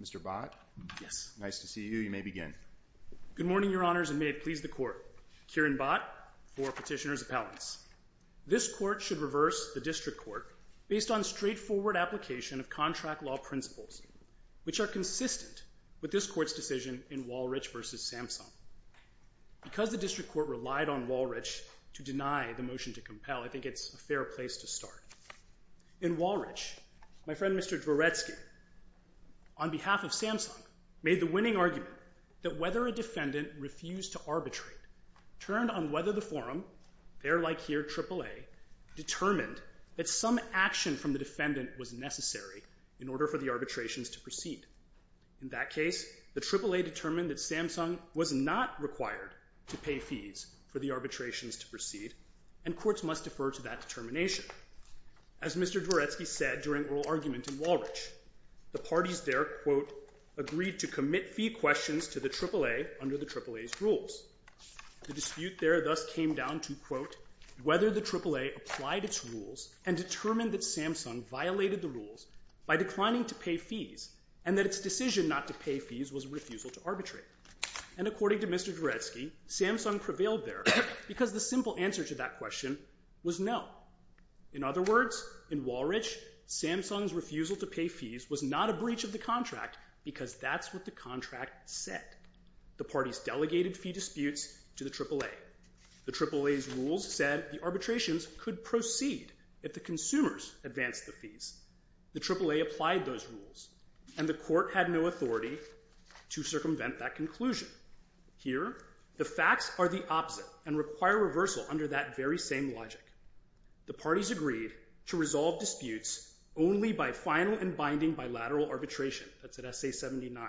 Mr. Bott, nice to see you. You may begin. Good morning, Your Honors, and may it please the Court. Kieran Bott for Petitioner's Appellants. This Court should reverse the District Court based on straightforward application of contract law principles, which are consistent with this Court's decision in Walrich v. Samsung. Because the District Court relied on Walrich to deny the motion to compel, I think it's a fair place to start. In Walrich, my friend Mr. Dvoretsky, on behalf of Samsung, made the winning argument that whether a defendant refused to arbitrate turned on whether the forum, there like here AAA, determined that some action from the defendant was necessary in order for the arbitrations to proceed. In that case, the AAA determined that Samsung was not required to pay fees for the arbitrations to proceed, and courts must defer to that determination. As Mr. Dvoretsky said during oral argument in Walrich, the parties there, quote, agreed to commit fee questions to the AAA under the AAA's rules. The dispute there thus came down to, quote, whether the AAA applied its rules and determined that Samsung violated the rules by declining to pay fees, and that its decision not to pay fees was a refusal to arbitrate. And according to Mr. Dvoretsky, Samsung prevailed there because the simple answer to that question was no. In other words, in Walrich, Samsung's refusal to pay fees was not a breach of the contract because that's what the contract said. The parties delegated fee disputes to the AAA. The AAA's rules said the arbitrations could proceed if the consumers advanced the fees. The AAA applied those rules, and the court had no authority to circumvent that conclusion. Here, the facts are the opposite and require reversal under that very same logic. The parties agreed to resolve disputes only by final and binding bilateral arbitration. That's at S.A. 79.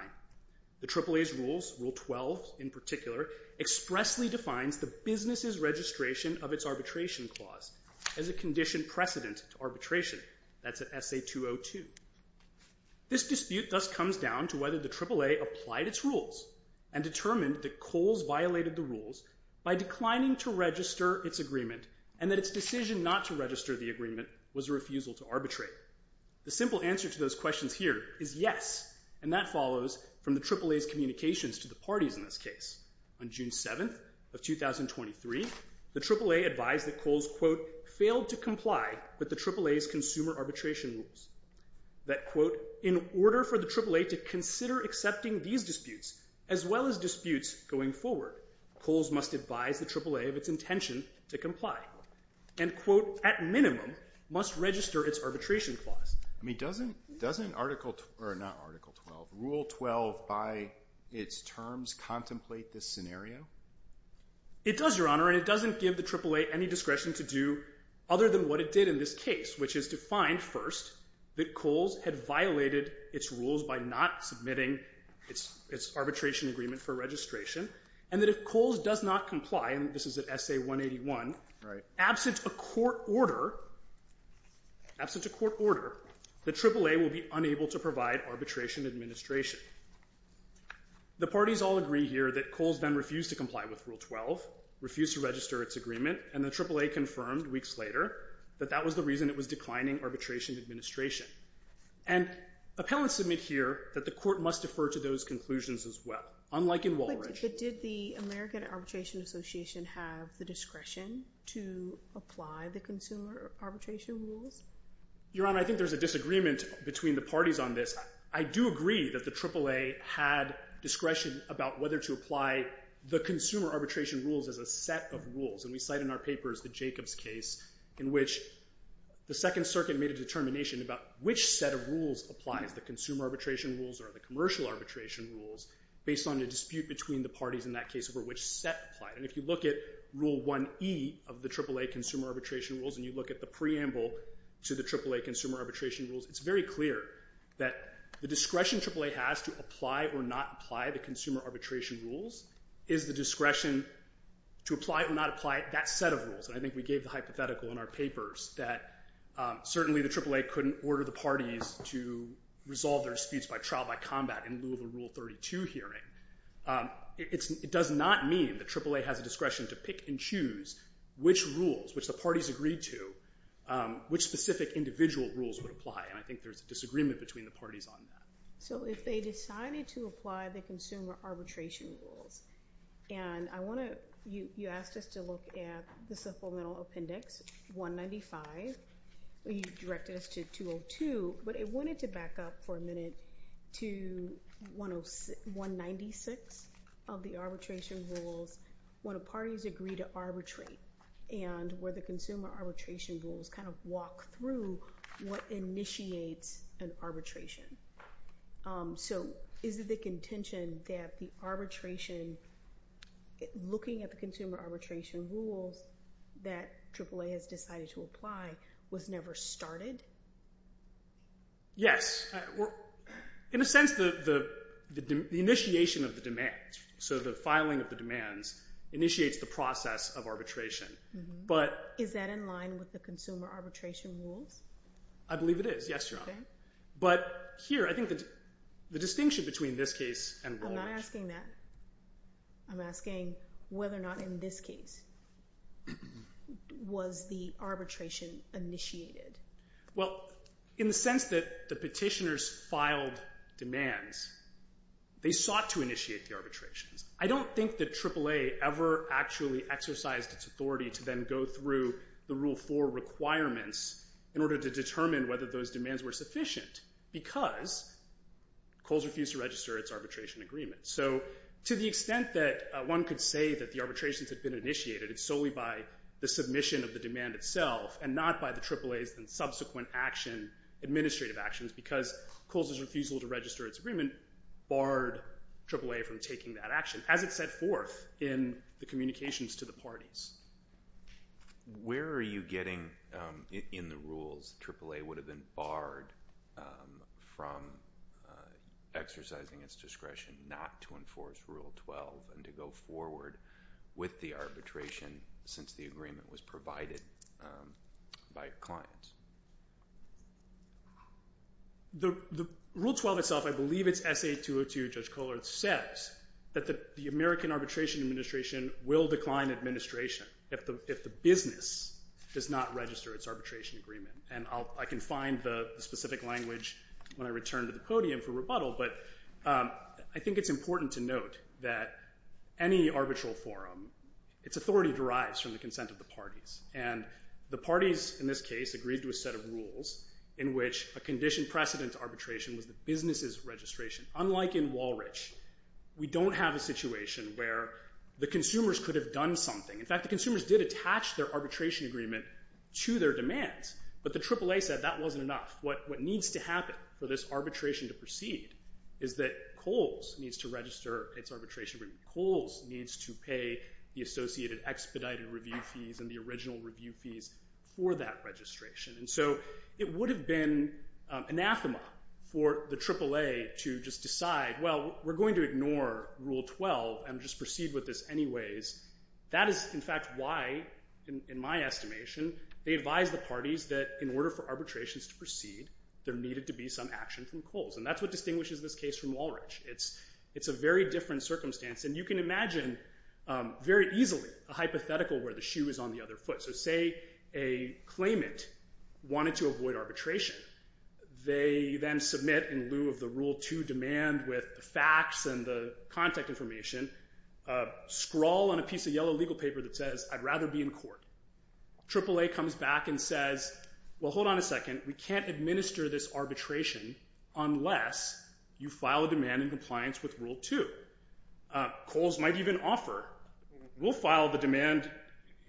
The AAA's rules, Rule 12 in particular, expressly defines the business's registration of its arbitration clause as a condition precedent to arbitration. That's at S.A. 202. This dispute thus comes down to whether the AAA applied its rules and determined that Kohl's violated the rules by declining to register its agreement, and that its decision not to register the agreement was a refusal to arbitrate. The simple answer to those questions here is yes, and that follows from the AAA's communications to the parties in this case. On June 7th of 2023, the AAA advised that Kohl's, quote, failed to comply with the AAA's consumer arbitration rules. That, quote, in order for the AAA to consider accepting these disputes as well as disputes going forward, Kohl's must advise the AAA of its intention to comply, and, quote, at minimum must register its arbitration clause. I mean, doesn't Article 12 or not Article 12, Rule 12 by its terms contemplate this scenario? It does, Your Honor, and it doesn't give the AAA any discretion to do other than what it did in this case, which is to find first that Kohl's had violated its rules by not submitting its arbitration agreement for registration, and that if Kohl's does not comply, and this is at S.A. 181. Right. Absent a court order, absent a court order, the AAA will be unable to provide arbitration administration. The parties all agree here that Kohl's then refused to comply with Rule 12, refused to register its agreement, and the AAA confirmed weeks later that that was the reason it was declining arbitration administration. And appellants submit here that the court must defer to those conclusions as well, unlike in Walridge. But did the American Arbitration Association have the discretion to apply the consumer arbitration rules? Your Honor, I think there's a disagreement between the parties on this. I do agree that the AAA had discretion about whether to apply the consumer arbitration rules as a set of rules, and we cite in our papers the Jacobs case in which the Second Circuit made a determination about which set of rules applies, the consumer arbitration rules or the commercial arbitration rules, based on the dispute between the parties in that case over which set applied. And if you look at Rule 1E of the AAA consumer arbitration rules, and you look at the preamble to the AAA consumer arbitration rules, it's very clear that the discretion AAA has to apply or not apply the consumer arbitration rules is the discretion to apply or not apply that set of rules. And I think we gave the hypothetical in our papers that certainly the AAA couldn't order the parties to resolve their disputes by trial by combat in lieu of a Rule 32 hearing. It does not mean that AAA has a discretion to pick and choose which rules, which the parties agreed to, which specific individual rules would apply, and I think there's a disagreement between the parties on that. So if they decided to apply the consumer arbitration rules, and you asked us to look at the Supplemental Appendix 195. You directed us to 202, but I wanted to back up for a minute to 196 of the arbitration rules when the parties agree to arbitrate and where the consumer arbitration rules kind of walk through what initiates an arbitration. So is it the contention that the arbitration, looking at the consumer arbitration rules that AAA has decided to apply was never started? Yes. In a sense, the initiation of the demands, so the filing of the demands, initiates the process of arbitration. Is that in line with the consumer arbitration rules? I believe it is, yes, Your Honor. Okay. But here, I think the distinction between this case and Rawley's... I'm not asking that. I'm asking whether or not in this case was the arbitration initiated. Well, in the sense that the petitioners filed demands, they sought to initiate the arbitrations. I don't think that AAA ever actually exercised its authority to then go through the Rule 4 requirements in order to determine whether those demands were sufficient because Kohl's refused to register its arbitration agreement. So to the extent that one could say that the arbitrations had been initiated, it's solely by the submission of the demand itself and not by the AAA's subsequent administrative actions because Kohl's refusal to register its agreement barred AAA from taking that action as it set forth in the communications to the parties. Where are you getting in the rules that AAA would have been barred from exercising its discretion not to enforce Rule 12 and to go forward with the arbitration since the agreement was provided by clients? The Rule 12 itself, I believe it's S.A. 202, Judge Kohler, says that the American Arbitration Administration will decline administration if the business does not register its arbitration agreement. And I can find the specific language when I return to the podium for rebuttal, but I think it's important to note that any arbitral forum, its authority derives from the consent of the parties. And the parties in this case agreed to a set of rules in which a condition precedent to arbitration was the business's registration. Unlike in Walrich, we don't have a situation where the consumers could have done something. In fact, the consumers did attach their arbitration agreement to their demands, but the AAA said that wasn't enough. What needs to happen for this arbitration to proceed is that Kohl's needs to register its arbitration agreement. Kohl's needs to pay the associated expedited review fees and the original review fees for that registration. And so it would have been anathema for the AAA to just decide, well, we're going to ignore Rule 12 and just proceed with this anyways. That is, in fact, why, in my estimation, they advised the parties that in order for arbitrations to proceed, there needed to be some action from Kohl's. And that's what distinguishes this case from Walrich. It's a very different circumstance. And you can imagine very easily a hypothetical where the shoe is on the other foot. So say a claimant wanted to avoid arbitration. They then submit in lieu of the Rule 2 demand with the facts and the contact information, scrawl on a piece of yellow legal paper that says, I'd rather be in court. AAA comes back and says, well, hold on a second. We can't administer this arbitration unless you file a demand in compliance with Rule 2. Kohl's might even offer, we'll file the demand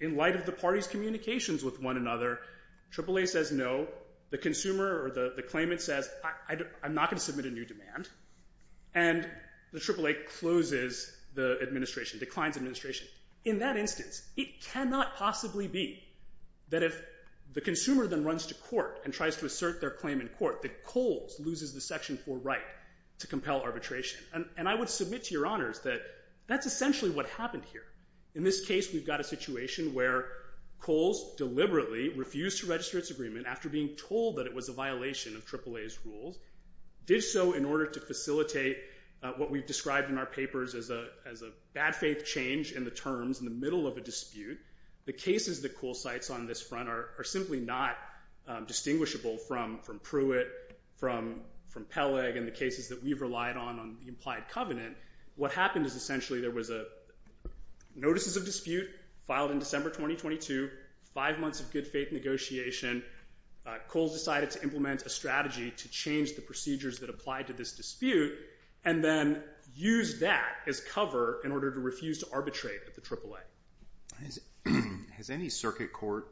in light of the party's communications with one another. AAA says no. The consumer or the claimant says, I'm not going to submit a new demand. And the AAA closes the administration, declines administration. In that instance, it cannot possibly be that if the consumer then runs to court and tries to assert their claim in court that Kohl's loses the Section 4 right to compel arbitration. And I would submit to your honors that that's essentially what happened here. In this case, we've got a situation where Kohl's deliberately refused to register its agreement after being told that it was a violation of AAA's rules, did so in order to facilitate what we've described in our papers as a bad faith change in the terms in the middle of a dispute. The cases that Kohl cites on this front are simply not distinguishable from Pruitt, from Peleg, and the cases that we've relied on on the implied covenant. What happened is essentially there was notices of dispute filed in December 2022, five months of good faith negotiation. Kohl's decided to implement a strategy to change the procedures that apply to this dispute and then use that as cover in order to refuse to arbitrate at the AAA. Has any circuit court,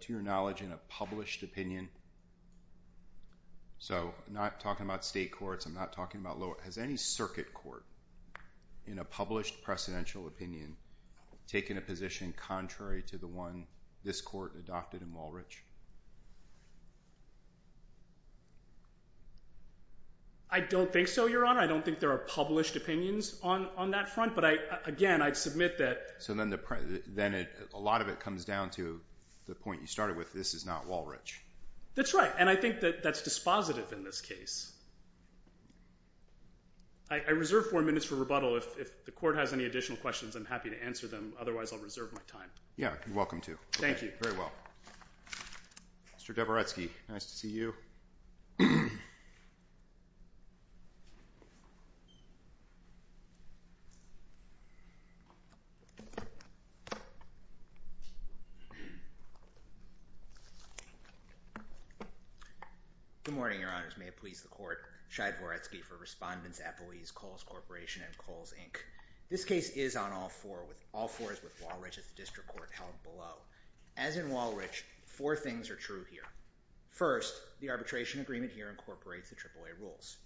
to your knowledge, in a published opinion, so I'm not talking about state courts. I'm not talking about lower. Has any circuit court in a published precedential opinion taken a position contrary to the one this court adopted in Walrich? I don't think so, your honor. I don't think there are published opinions on that front, but again, I'd submit that. So then a lot of it comes down to the point you started with. This is not Walrich. That's right, and I think that that's dispositive in this case. I reserve four minutes for rebuttal. If the court has any additional questions, I'm happy to answer them. Otherwise, I'll reserve my time. Yeah, you're welcome to. Thank you. Very well. Mr. Dabrowski, nice to see you. Good morning, your honors. May it please the court. Shai Dvoretsky for Respondents, Employees, Kohls Corporation, and Kohls, Inc. This case is on all four. All four is with Walrich at the district court held below. As in Walrich, four things are true here. First, the arbitration agreement here incorporates the AAA rules.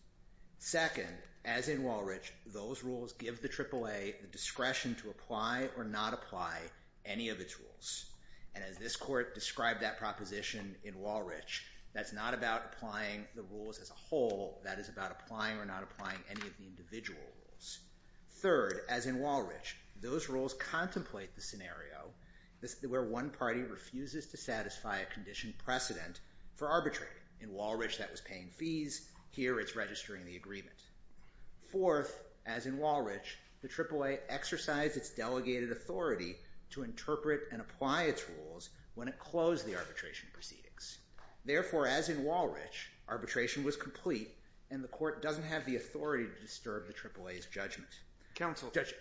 Second, as in Walrich, those rules give the AAA the discretion to apply or not apply any of its rules. And as this court described that proposition in Walrich, that's not about applying the rules as a whole. That is about applying or not applying any of the individual rules. Third, as in Walrich, those rules contemplate the scenario where one party refuses to satisfy a condition precedent for arbitration. In Walrich, that was paying fees. Here, it's registering the agreement. Fourth, as in Walrich, the AAA exercised its delegated authority to interpret and apply its rules when it closed the arbitration proceedings. Therefore, as in Walrich, arbitration was complete and the court doesn't have the authority to disturb the AAA's judgment. Counsel. Judge.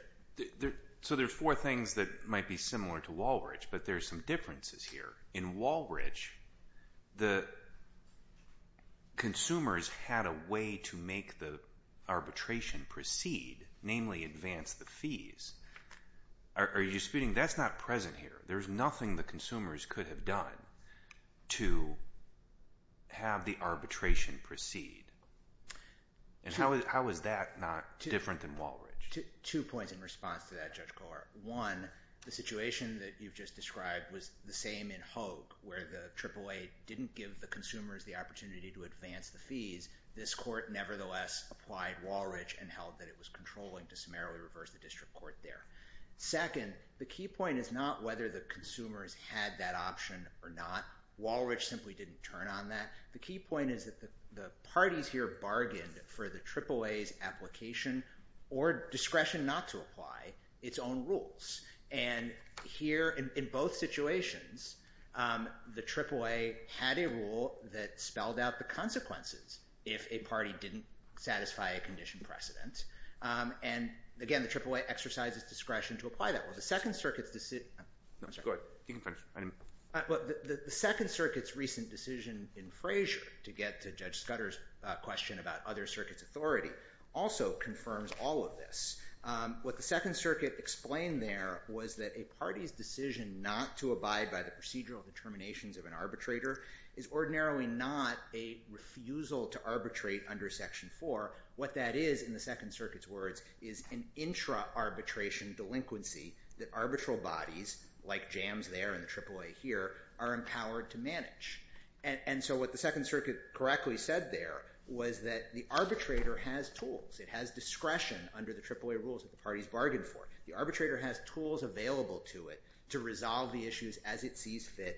So there are four things that might be similar to Walrich, but there are some differences here. In Walrich, the consumers had a way to make the arbitration proceed, namely advance the fees. Are you speaking? That's not present here. There's nothing the consumers could have done to have the arbitration proceed. And how is that not different than Walrich? Two points in response to that, Judge Kohler. One, the situation that you've just described was the same in Hogue where the AAA didn't give the consumers the opportunity to advance the fees. This court nevertheless applied Walrich and held that it was controlling to summarily reverse the district court there. Second, the key point is not whether the consumers had that option or not. Walrich simply didn't turn on that. The key point is that the parties here bargained for the AAA's application or discretion not to apply its own rules. And here, in both situations, the AAA had a rule that spelled out the consequences if a party didn't satisfy a condition precedent. And again, the AAA exercises discretion to apply that. The Second Circuit's recent decision in Frazier to get to Judge Scudder's question about other circuits' authority also confirms all of this. What the Second Circuit explained there was that a party's decision not to abide by the procedural determinations of an arbitrator is ordinarily not a refusal to arbitrate under Section 4. What that is, in the Second Circuit's words, is an intra-arbitration delinquency that arbitral bodies, like JAMS there and the AAA here, are empowered to manage. And so what the Second Circuit correctly said there was that the arbitrator has tools. It has discretion under the AAA rules that the parties bargained for. The arbitrator has tools available to it to resolve the issues as it sees fit,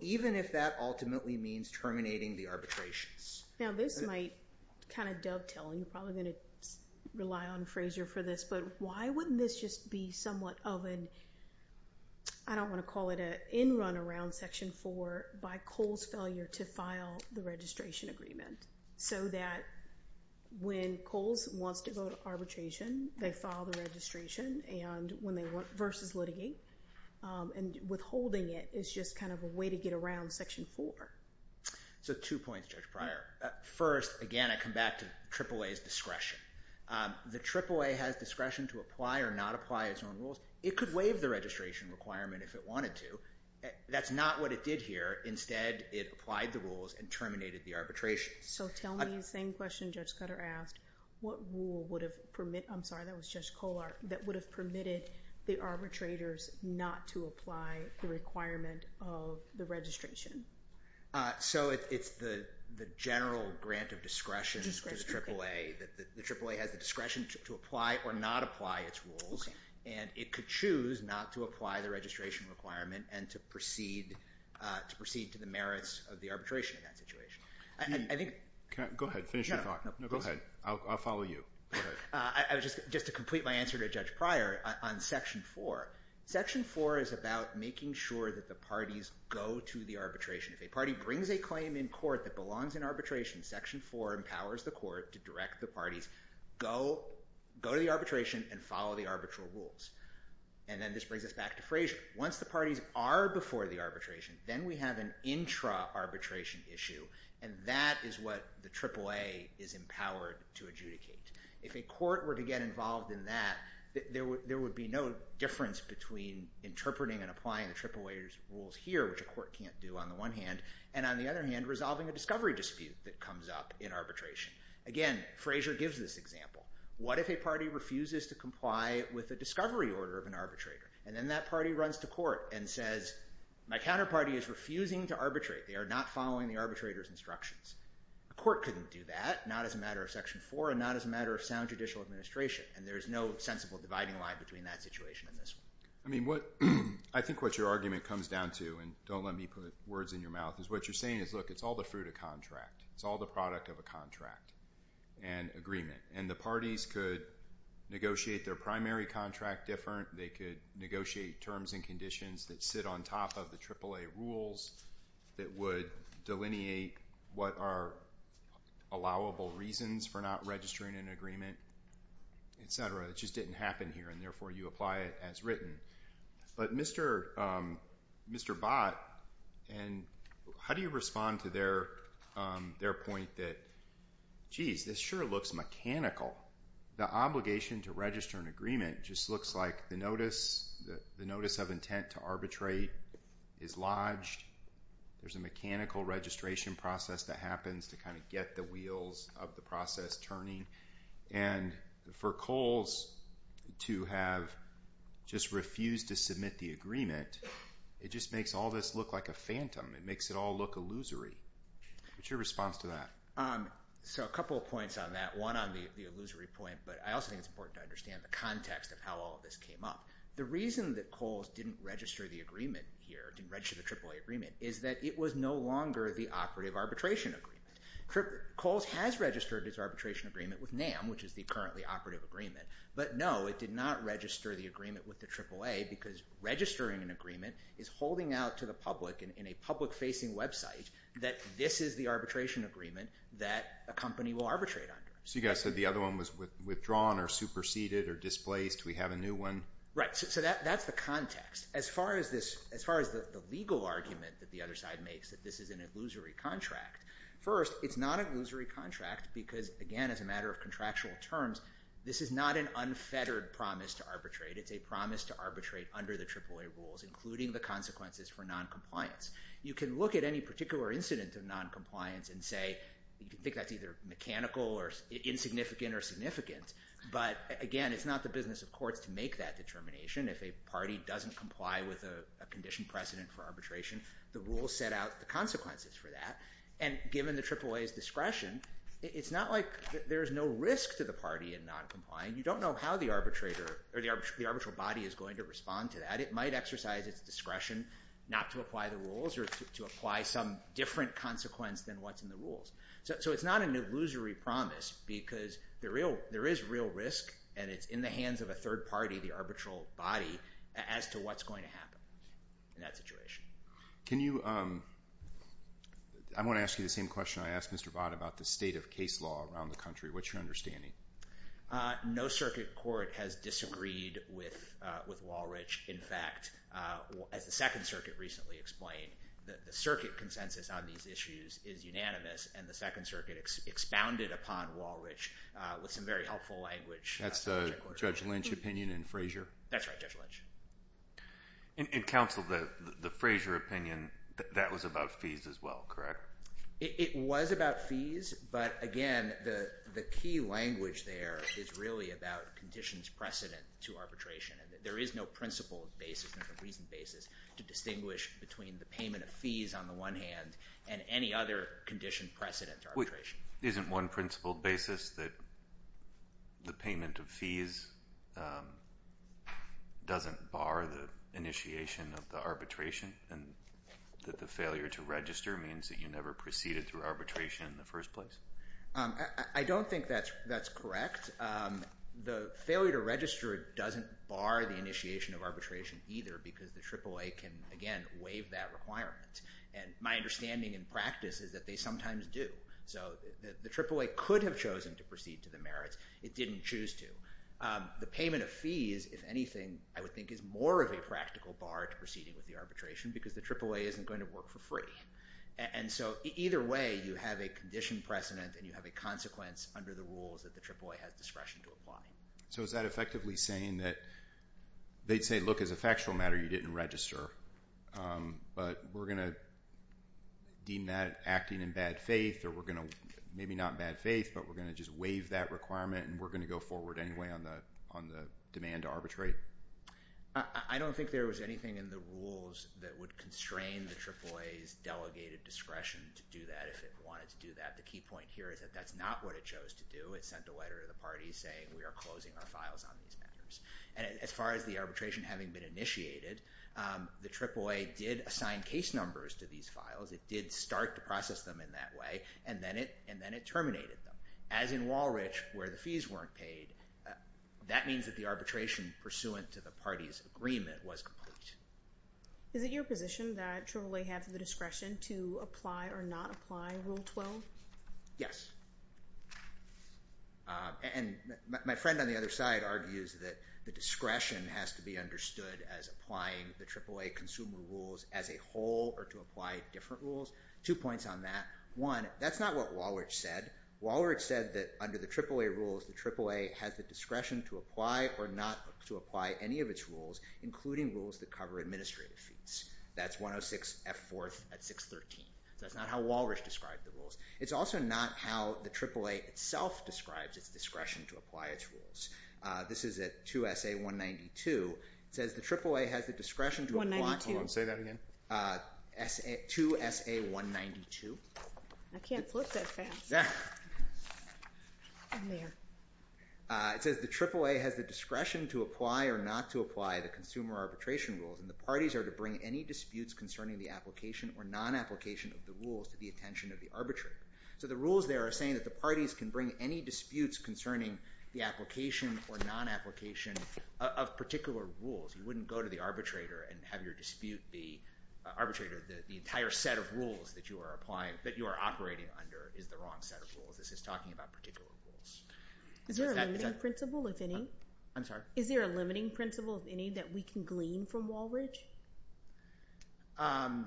even if that ultimately means terminating the arbitrations. Now this might kind of dovetail, and you're probably going to rely on Frazier for this, but why wouldn't this just be somewhat of an, I don't want to call it an in-run-around Section 4, by Kohl's failure to file the registration agreement so that when Kohl's wants to go to arbitration, they file the registration versus litigate, and withholding it is just kind of a way to get around Section 4. So two points, Judge Pryor. First, again, I come back to AAA's discretion. The AAA has discretion to apply or not apply its own rules. It could waive the registration requirement if it wanted to. That's not what it did here. Instead, it applied the rules and terminated the arbitrations. So tell me the same question Judge Cutter asked. What rule would have permitted, I'm sorry, that was Judge Kollar, that would have permitted the arbitrators not to apply the requirement of the registration? So it's the general grant of discretion to the AAA. The AAA has the discretion to apply or not apply its rules, and it could choose not to apply the registration requirement and to proceed to the merits of the arbitration in that situation. Go ahead, finish your thought. No, go ahead. I'll follow you. Just to complete my answer to Judge Pryor on Section 4, Section 4 is about making sure that the parties go to the arbitration. If a party brings a claim in court that belongs in arbitration, Section 4 empowers the court to direct the parties, go to the arbitration and follow the arbitral rules. And then this brings us back to Frazier. Once the parties are before the arbitration, then we have an intra-arbitration issue, and that is what the AAA is empowered to adjudicate. If a court were to get involved in that, there would be no difference between interpreting and applying the AAA's rules here, which a court can't do on the one hand, and on the other hand, resolving a discovery dispute that comes up in arbitration. Again, Frazier gives this example. What if a party refuses to comply with the discovery order of an arbitrator? And then that party runs to court and says, my counterparty is refusing to arbitrate. They are not following the arbitrator's instructions. A court couldn't do that, not as a matter of Section 4 and not as a matter of sound judicial administration, and there's no sensible dividing line between that situation and this one. I think what your argument comes down to, and don't let me put words in your mouth, is what you're saying is, look, it's all the fruit of contract. It's all the product of a contract and agreement. And the parties could negotiate their primary contract different. They could negotiate terms and conditions that sit on top of the AAA rules that would delineate what are allowable reasons for not registering an agreement, et cetera. It just didn't happen here, and therefore you apply it as written. But Mr. Bott, how do you respond to their point that, geez, this sure looks mechanical. The obligation to register an agreement just looks like the notice of intent to arbitrate is lodged, there's a mechanical registration process that happens to kind of get the wheels of the process turning, and for Coles to have just refused to submit the agreement, it just makes all this look like a phantom. It makes it all look illusory. What's your response to that? So a couple of points on that, one on the illusory point, but I also think it's important to understand the context of how all of this came up. The reason that Coles didn't register the agreement here, didn't register the AAA agreement, is that it was no longer the operative arbitration agreement. Coles has registered its arbitration agreement with NAM, which is the currently operative agreement, but no, it did not register the agreement with the AAA because registering an agreement is holding out to the public in a public-facing website that this is the arbitration agreement that a company will arbitrate under. So you guys said the other one was withdrawn or superseded or displaced, we have a new one? Right, so that's the context. As far as the legal argument that the other side makes that this is an illusory contract, first, it's not an illusory contract because, again, as a matter of contractual terms, this is not an unfettered promise to arbitrate. It's a promise to arbitrate under the AAA rules, including the consequences for noncompliance. You can look at any particular incident of noncompliance and say, you can think that's either mechanical or insignificant or significant, but again, it's not the business of courts to make that determination. If a party doesn't comply with a condition precedent for arbitration, the rules set out the consequences for that. And given the AAA's discretion, it's not like there's no risk to the party in noncompliance. You don't know how the arbitrator or the arbitral body is going to respond to that. It might exercise its discretion not to apply the rules or to apply some different consequence than what's in the rules. So it's not an illusory promise because there is real risk and it's in the hands of a third party, the arbitral body, as to what's going to happen in that situation. Can you... I'm going to ask you the same question I asked Mr. Bott about the state of case law around the country. What's your understanding? No circuit court has disagreed with Walrich. In fact, as the Second Circuit recently explained, the circuit consensus on these issues is unanimous and the Second Circuit expounded upon Walrich with some very helpful language. That's the Judge Lynch opinion and Frazier? That's right, Judge Lynch. And counsel, the Frazier opinion, that was about fees as well, correct? It was about fees, but again, the key language there is really about conditions precedent to arbitration. There is no principled basis or reasoned basis to distinguish between the payment of fees on the one hand and any other condition precedent arbitration. Isn't one principled basis that the payment of fees doesn't bar the initiation of the arbitration and that the failure to register means that you never proceeded through arbitration in the first place? I don't think that's correct. The failure to register doesn't bar the initiation of arbitration either because the AAA can, again, waive that requirement. And my understanding in practice is that they sometimes do. So the AAA could have chosen to proceed to the merits. It didn't choose to. The payment of fees, if anything, I would think is more of a practical bar to proceeding with the arbitration because the AAA isn't going to work for free. And so either way, you have a condition precedent and you have a consequence under the rules that the AAA has discretion to apply. So is that effectively saying that they'd say, look, as a factual matter, you didn't register, but we're going to deem that acting in bad faith or we're going to, maybe not in bad faith, but we're going to just waive that requirement and we're going to go forward anyway on the demand to arbitrate? I don't think there was anything in the rules that would constrain the AAA's delegated discretion to do that if it wanted to do that. The key point here is that that's not what it chose to do. It sent a letter to the parties saying we are closing our files on these matters. And as far as the arbitration having been initiated, the AAA did assign case numbers to these files. It did start to process them in that way, and then it terminated them. As in Walrich, where the fees weren't paid, that means that the arbitration pursuant to the parties' agreement was complete. Is it your position that AAA have the discretion to apply or not apply Rule 12? Yes. And my friend on the other side argues that the discretion has to be understood as applying the AAA consumer rules as a whole or to apply different rules. Two points on that. One, that's not what Walrich said. Walrich said that under the AAA rules, the AAA has the discretion to apply or not to apply any of its rules, including rules that cover administrative fees. That's 106F4 at 613. That's not how Walrich described the rules. It's also not how the AAA itself describes its discretion to apply its rules. This is at 2SA192. It says the AAA has the discretion to apply... 192. Hold on, say that again. 2SA192. I can't flip that fast. It says the AAA has the discretion to apply or not to apply the consumer arbitration rules, and the parties are to bring any disputes concerning the application or non-application of the rules to the attention of the arbitrator. So the rules there are saying that the parties can bring any disputes concerning the application or non-application of particular rules. You wouldn't go to the arbitrator and have your dispute be... Arbitrator, the entire set of rules that you are applying, that you are operating under, is the wrong set of rules. This is talking about particular rules. Is there a limiting principle, if any? I'm sorry? Is there a limiting principle, if any, that we can glean from Walrich? I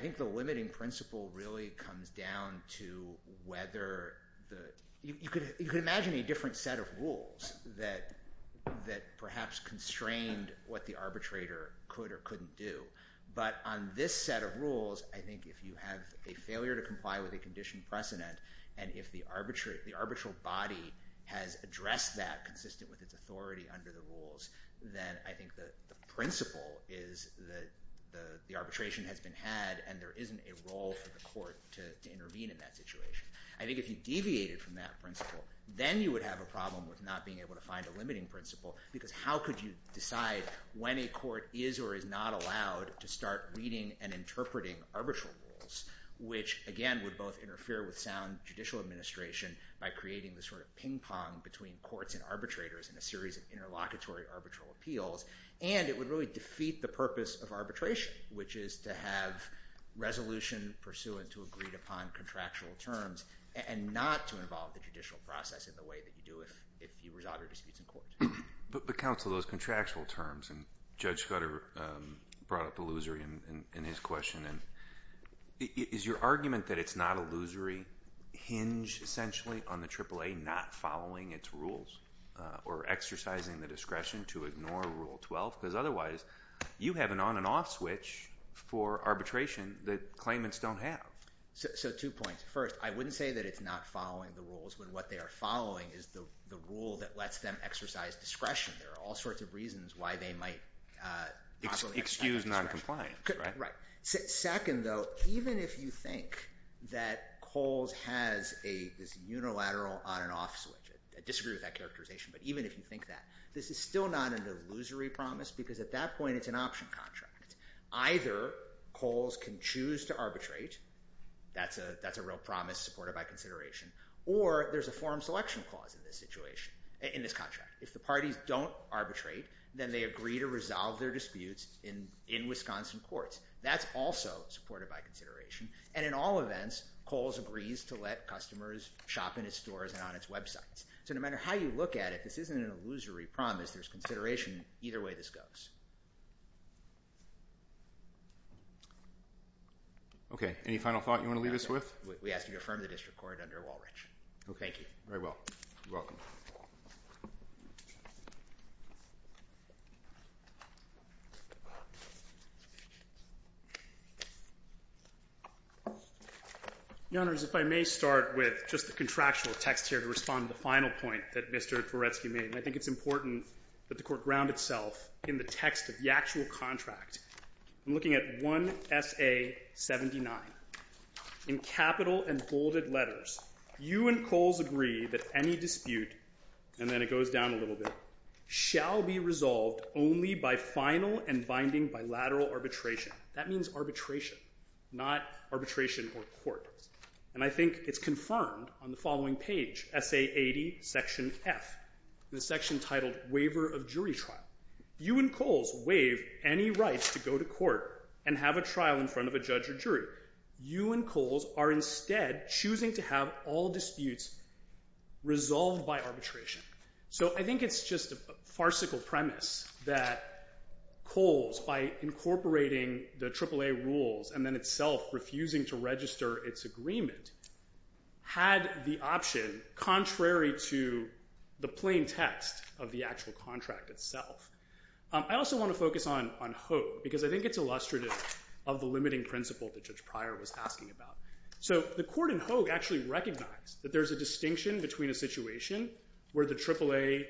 think the limiting principle really comes down to whether the... You could imagine a different set of rules that perhaps constrained what the arbitrator could or couldn't do. But on this set of rules, I think if you have a failure to comply with a conditioned precedent, and if the arbitral body has addressed that consistent with its authority under the rules, then I think the principle is that the arbitration has been had, and there isn't a role for the court to intervene in that situation. I think if you deviated from that principle, then you would have a problem with not being able to find a limiting principle, because how could you decide when a court is or is not allowed to start reading and interpreting arbitral rules, which, again, would both interfere with sound judicial administration by creating this sort of ping-pong between courts and arbitrators in a series of interlocutory arbitral appeals, and it would really defeat the purpose of arbitration, which is to have resolution pursuant to agreed-upon contractual terms and not to involve the judicial process in the way that you do if you resolve your disputes in court. But, counsel, those contractual terms, and Judge Scudder brought up illusory in his question, and is your argument that it's not illusory hinged essentially on the AAA not following its rules or exercising the discretion to ignore Rule 12? Because otherwise, you have an on-and-off switch for arbitration that claimants don't have. So two points. First, I wouldn't say that it's not following the rules when what they are following is the rule that lets them exercise discretion. There are all sorts of reasons why they might possibly exercise discretion. Excuse noncompliance, right? Right. Second, though, even if you think that Coles has this unilateral on-and-off switch, I disagree with that characterization, but even if you think that, this is still not an illusory promise because at that point, it's an option contract. Either Coles can choose to arbitrate, that's a real promise supported by consideration, or there's a forum selection clause in this situation, in this contract. If the parties don't arbitrate, then they agree to resolve their disputes in Wisconsin courts. That's also supported by consideration, and in all events, Coles agrees to let customers shop in his stores and on its websites. So no matter how you look at it, this isn't an illusory promise. There's consideration. Either way, this goes. Any final thought you want to leave us with? We ask that you affirm the district court under Walrich. Okay. Very well. You're welcome. Your Honors, if I may start with just the contractual text here to respond to the final point that Mr. Tvoretsky made, and I think it's important that the Court ground itself in the text of the actual contract. I'm looking at 1 SA 79. In capital and bolded letters, you and Coles agree that any dispute, and then it goes down a little bit, shall be resolved only by final and binding bilateral arbitration. That means arbitration, not arbitration or court. And I think it's confirmed on the following page, SA 80 Section F, the section titled Waiver of Jury Trial. You and Coles waive any right to go to court and have a trial in front of a judge or jury. You and Coles are instead choosing to have all disputes resolved by arbitration. So I think it's just a farcical premise that Coles, by incorporating the AAA rules and then itself refusing to register its agreement, had the option, contrary to the plain text of the actual contract itself. I also want to focus on Hogue, because I think it's illustrative of the limiting principle that Judge Pryor was asking about. So the Court in Hogue actually recognized that there's a distinction between a situation where the AAA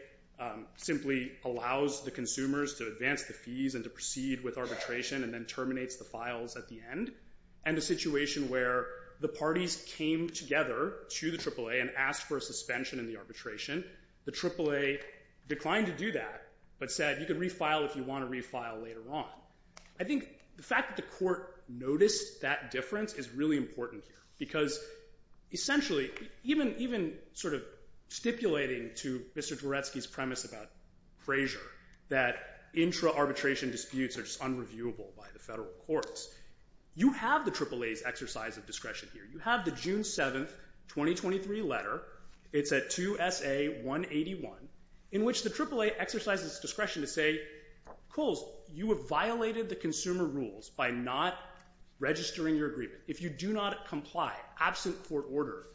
simply allows the consumers to advance the fees and to proceed with arbitration and then terminates the files at the end, and a situation where the parties came together to the AAA and asked for a suspension in the arbitration. The AAA declined to do that but said, you can refile if you want to refile later on. I think the fact that the Court noticed that difference is really important here, because essentially, even sort of stipulating to Mr. Dvoretsky's premise about Frazier that intra-arbitration disputes are just unreviewable by the federal courts, you have the AAA's exercise of discretion here. You have the June 7, 2023 letter. It's at 2 SA 181, in which the AAA exercises its discretion to say, Kohl's, you have violated the consumer rules by not registering your agreement. If you do not comply, absent court order,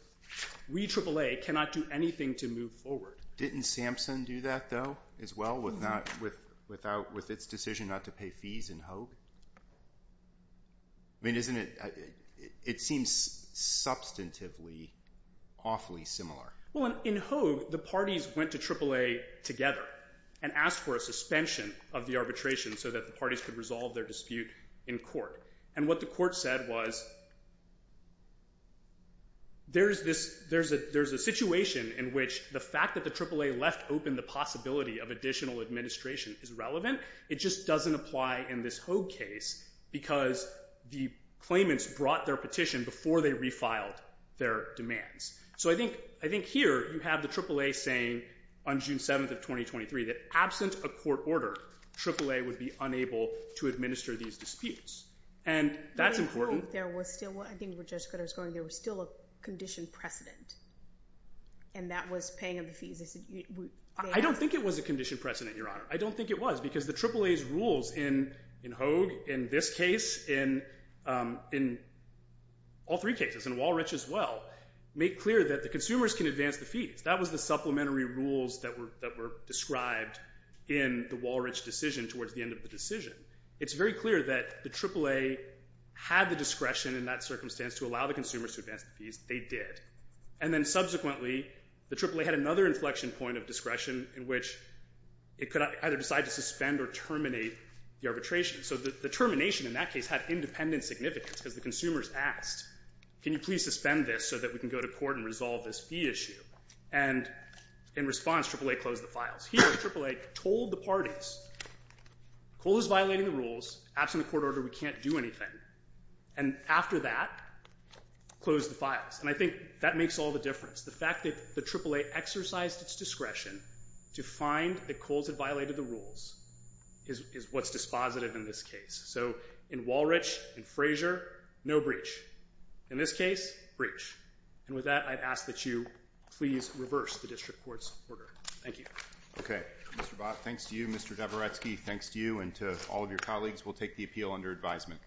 we AAA cannot do anything to move forward. Didn't Sampson do that, though, as well, with its decision not to pay fees in Hogue? I mean, isn't it... It seems substantively awfully similar. Well, in Hogue, the parties went to AAA together and asked for a suspension of the arbitration so that the parties could resolve their dispute in court. And what the court said was... there's this... there's a situation in which the fact that the AAA left open the possibility of additional administration is relevant. It just doesn't apply in this Hogue case because the claimants brought their petition before they refiled their demands. So I think... I think here you have the AAA saying on June 7, 2023, that absent a court order, AAA would be unable to administer these disputes. And that's important. But in Hogue, there was still... I think where Judge Greta was going, there was still a conditioned precedent, and that was paying of the fees. I don't think it was a conditioned precedent, Your Honor. I don't think it was, because the AAA's rules in Hogue, in this case, in all three cases, in Walrich as well, make clear that the consumers can advance the fees. That was the supplementary rules that were described in the Walrich decision towards the end of the decision. It's very clear that the AAA had the discretion in that circumstance to allow the consumers to advance the fees. They did. And then subsequently, the AAA had another inflection point of discretion in which it could either decide to suspend or terminate the arbitration. So the termination in that case had independent significance because the consumers asked, can you please suspend this so that we can go to court and resolve this fee issue? And in response, AAA closed the files. Here, AAA told the parties, COLA's violating the rules. Absent a court order, we can't do anything. And after that, closed the files. And I think that makes all the difference. The fact that the AAA exercised its discretion to find that COLA's had violated the rules is what's dispositive in this case. So in Walrich, in Frazier, no breach. In this case, breach. And with that, I'd ask that you please reverse the district court's order. Thank you. Okay. Mr. Bott, thanks to you. Mr. Dabrowski, thanks to you and to all of your colleagues. We'll take the appeal under advisement.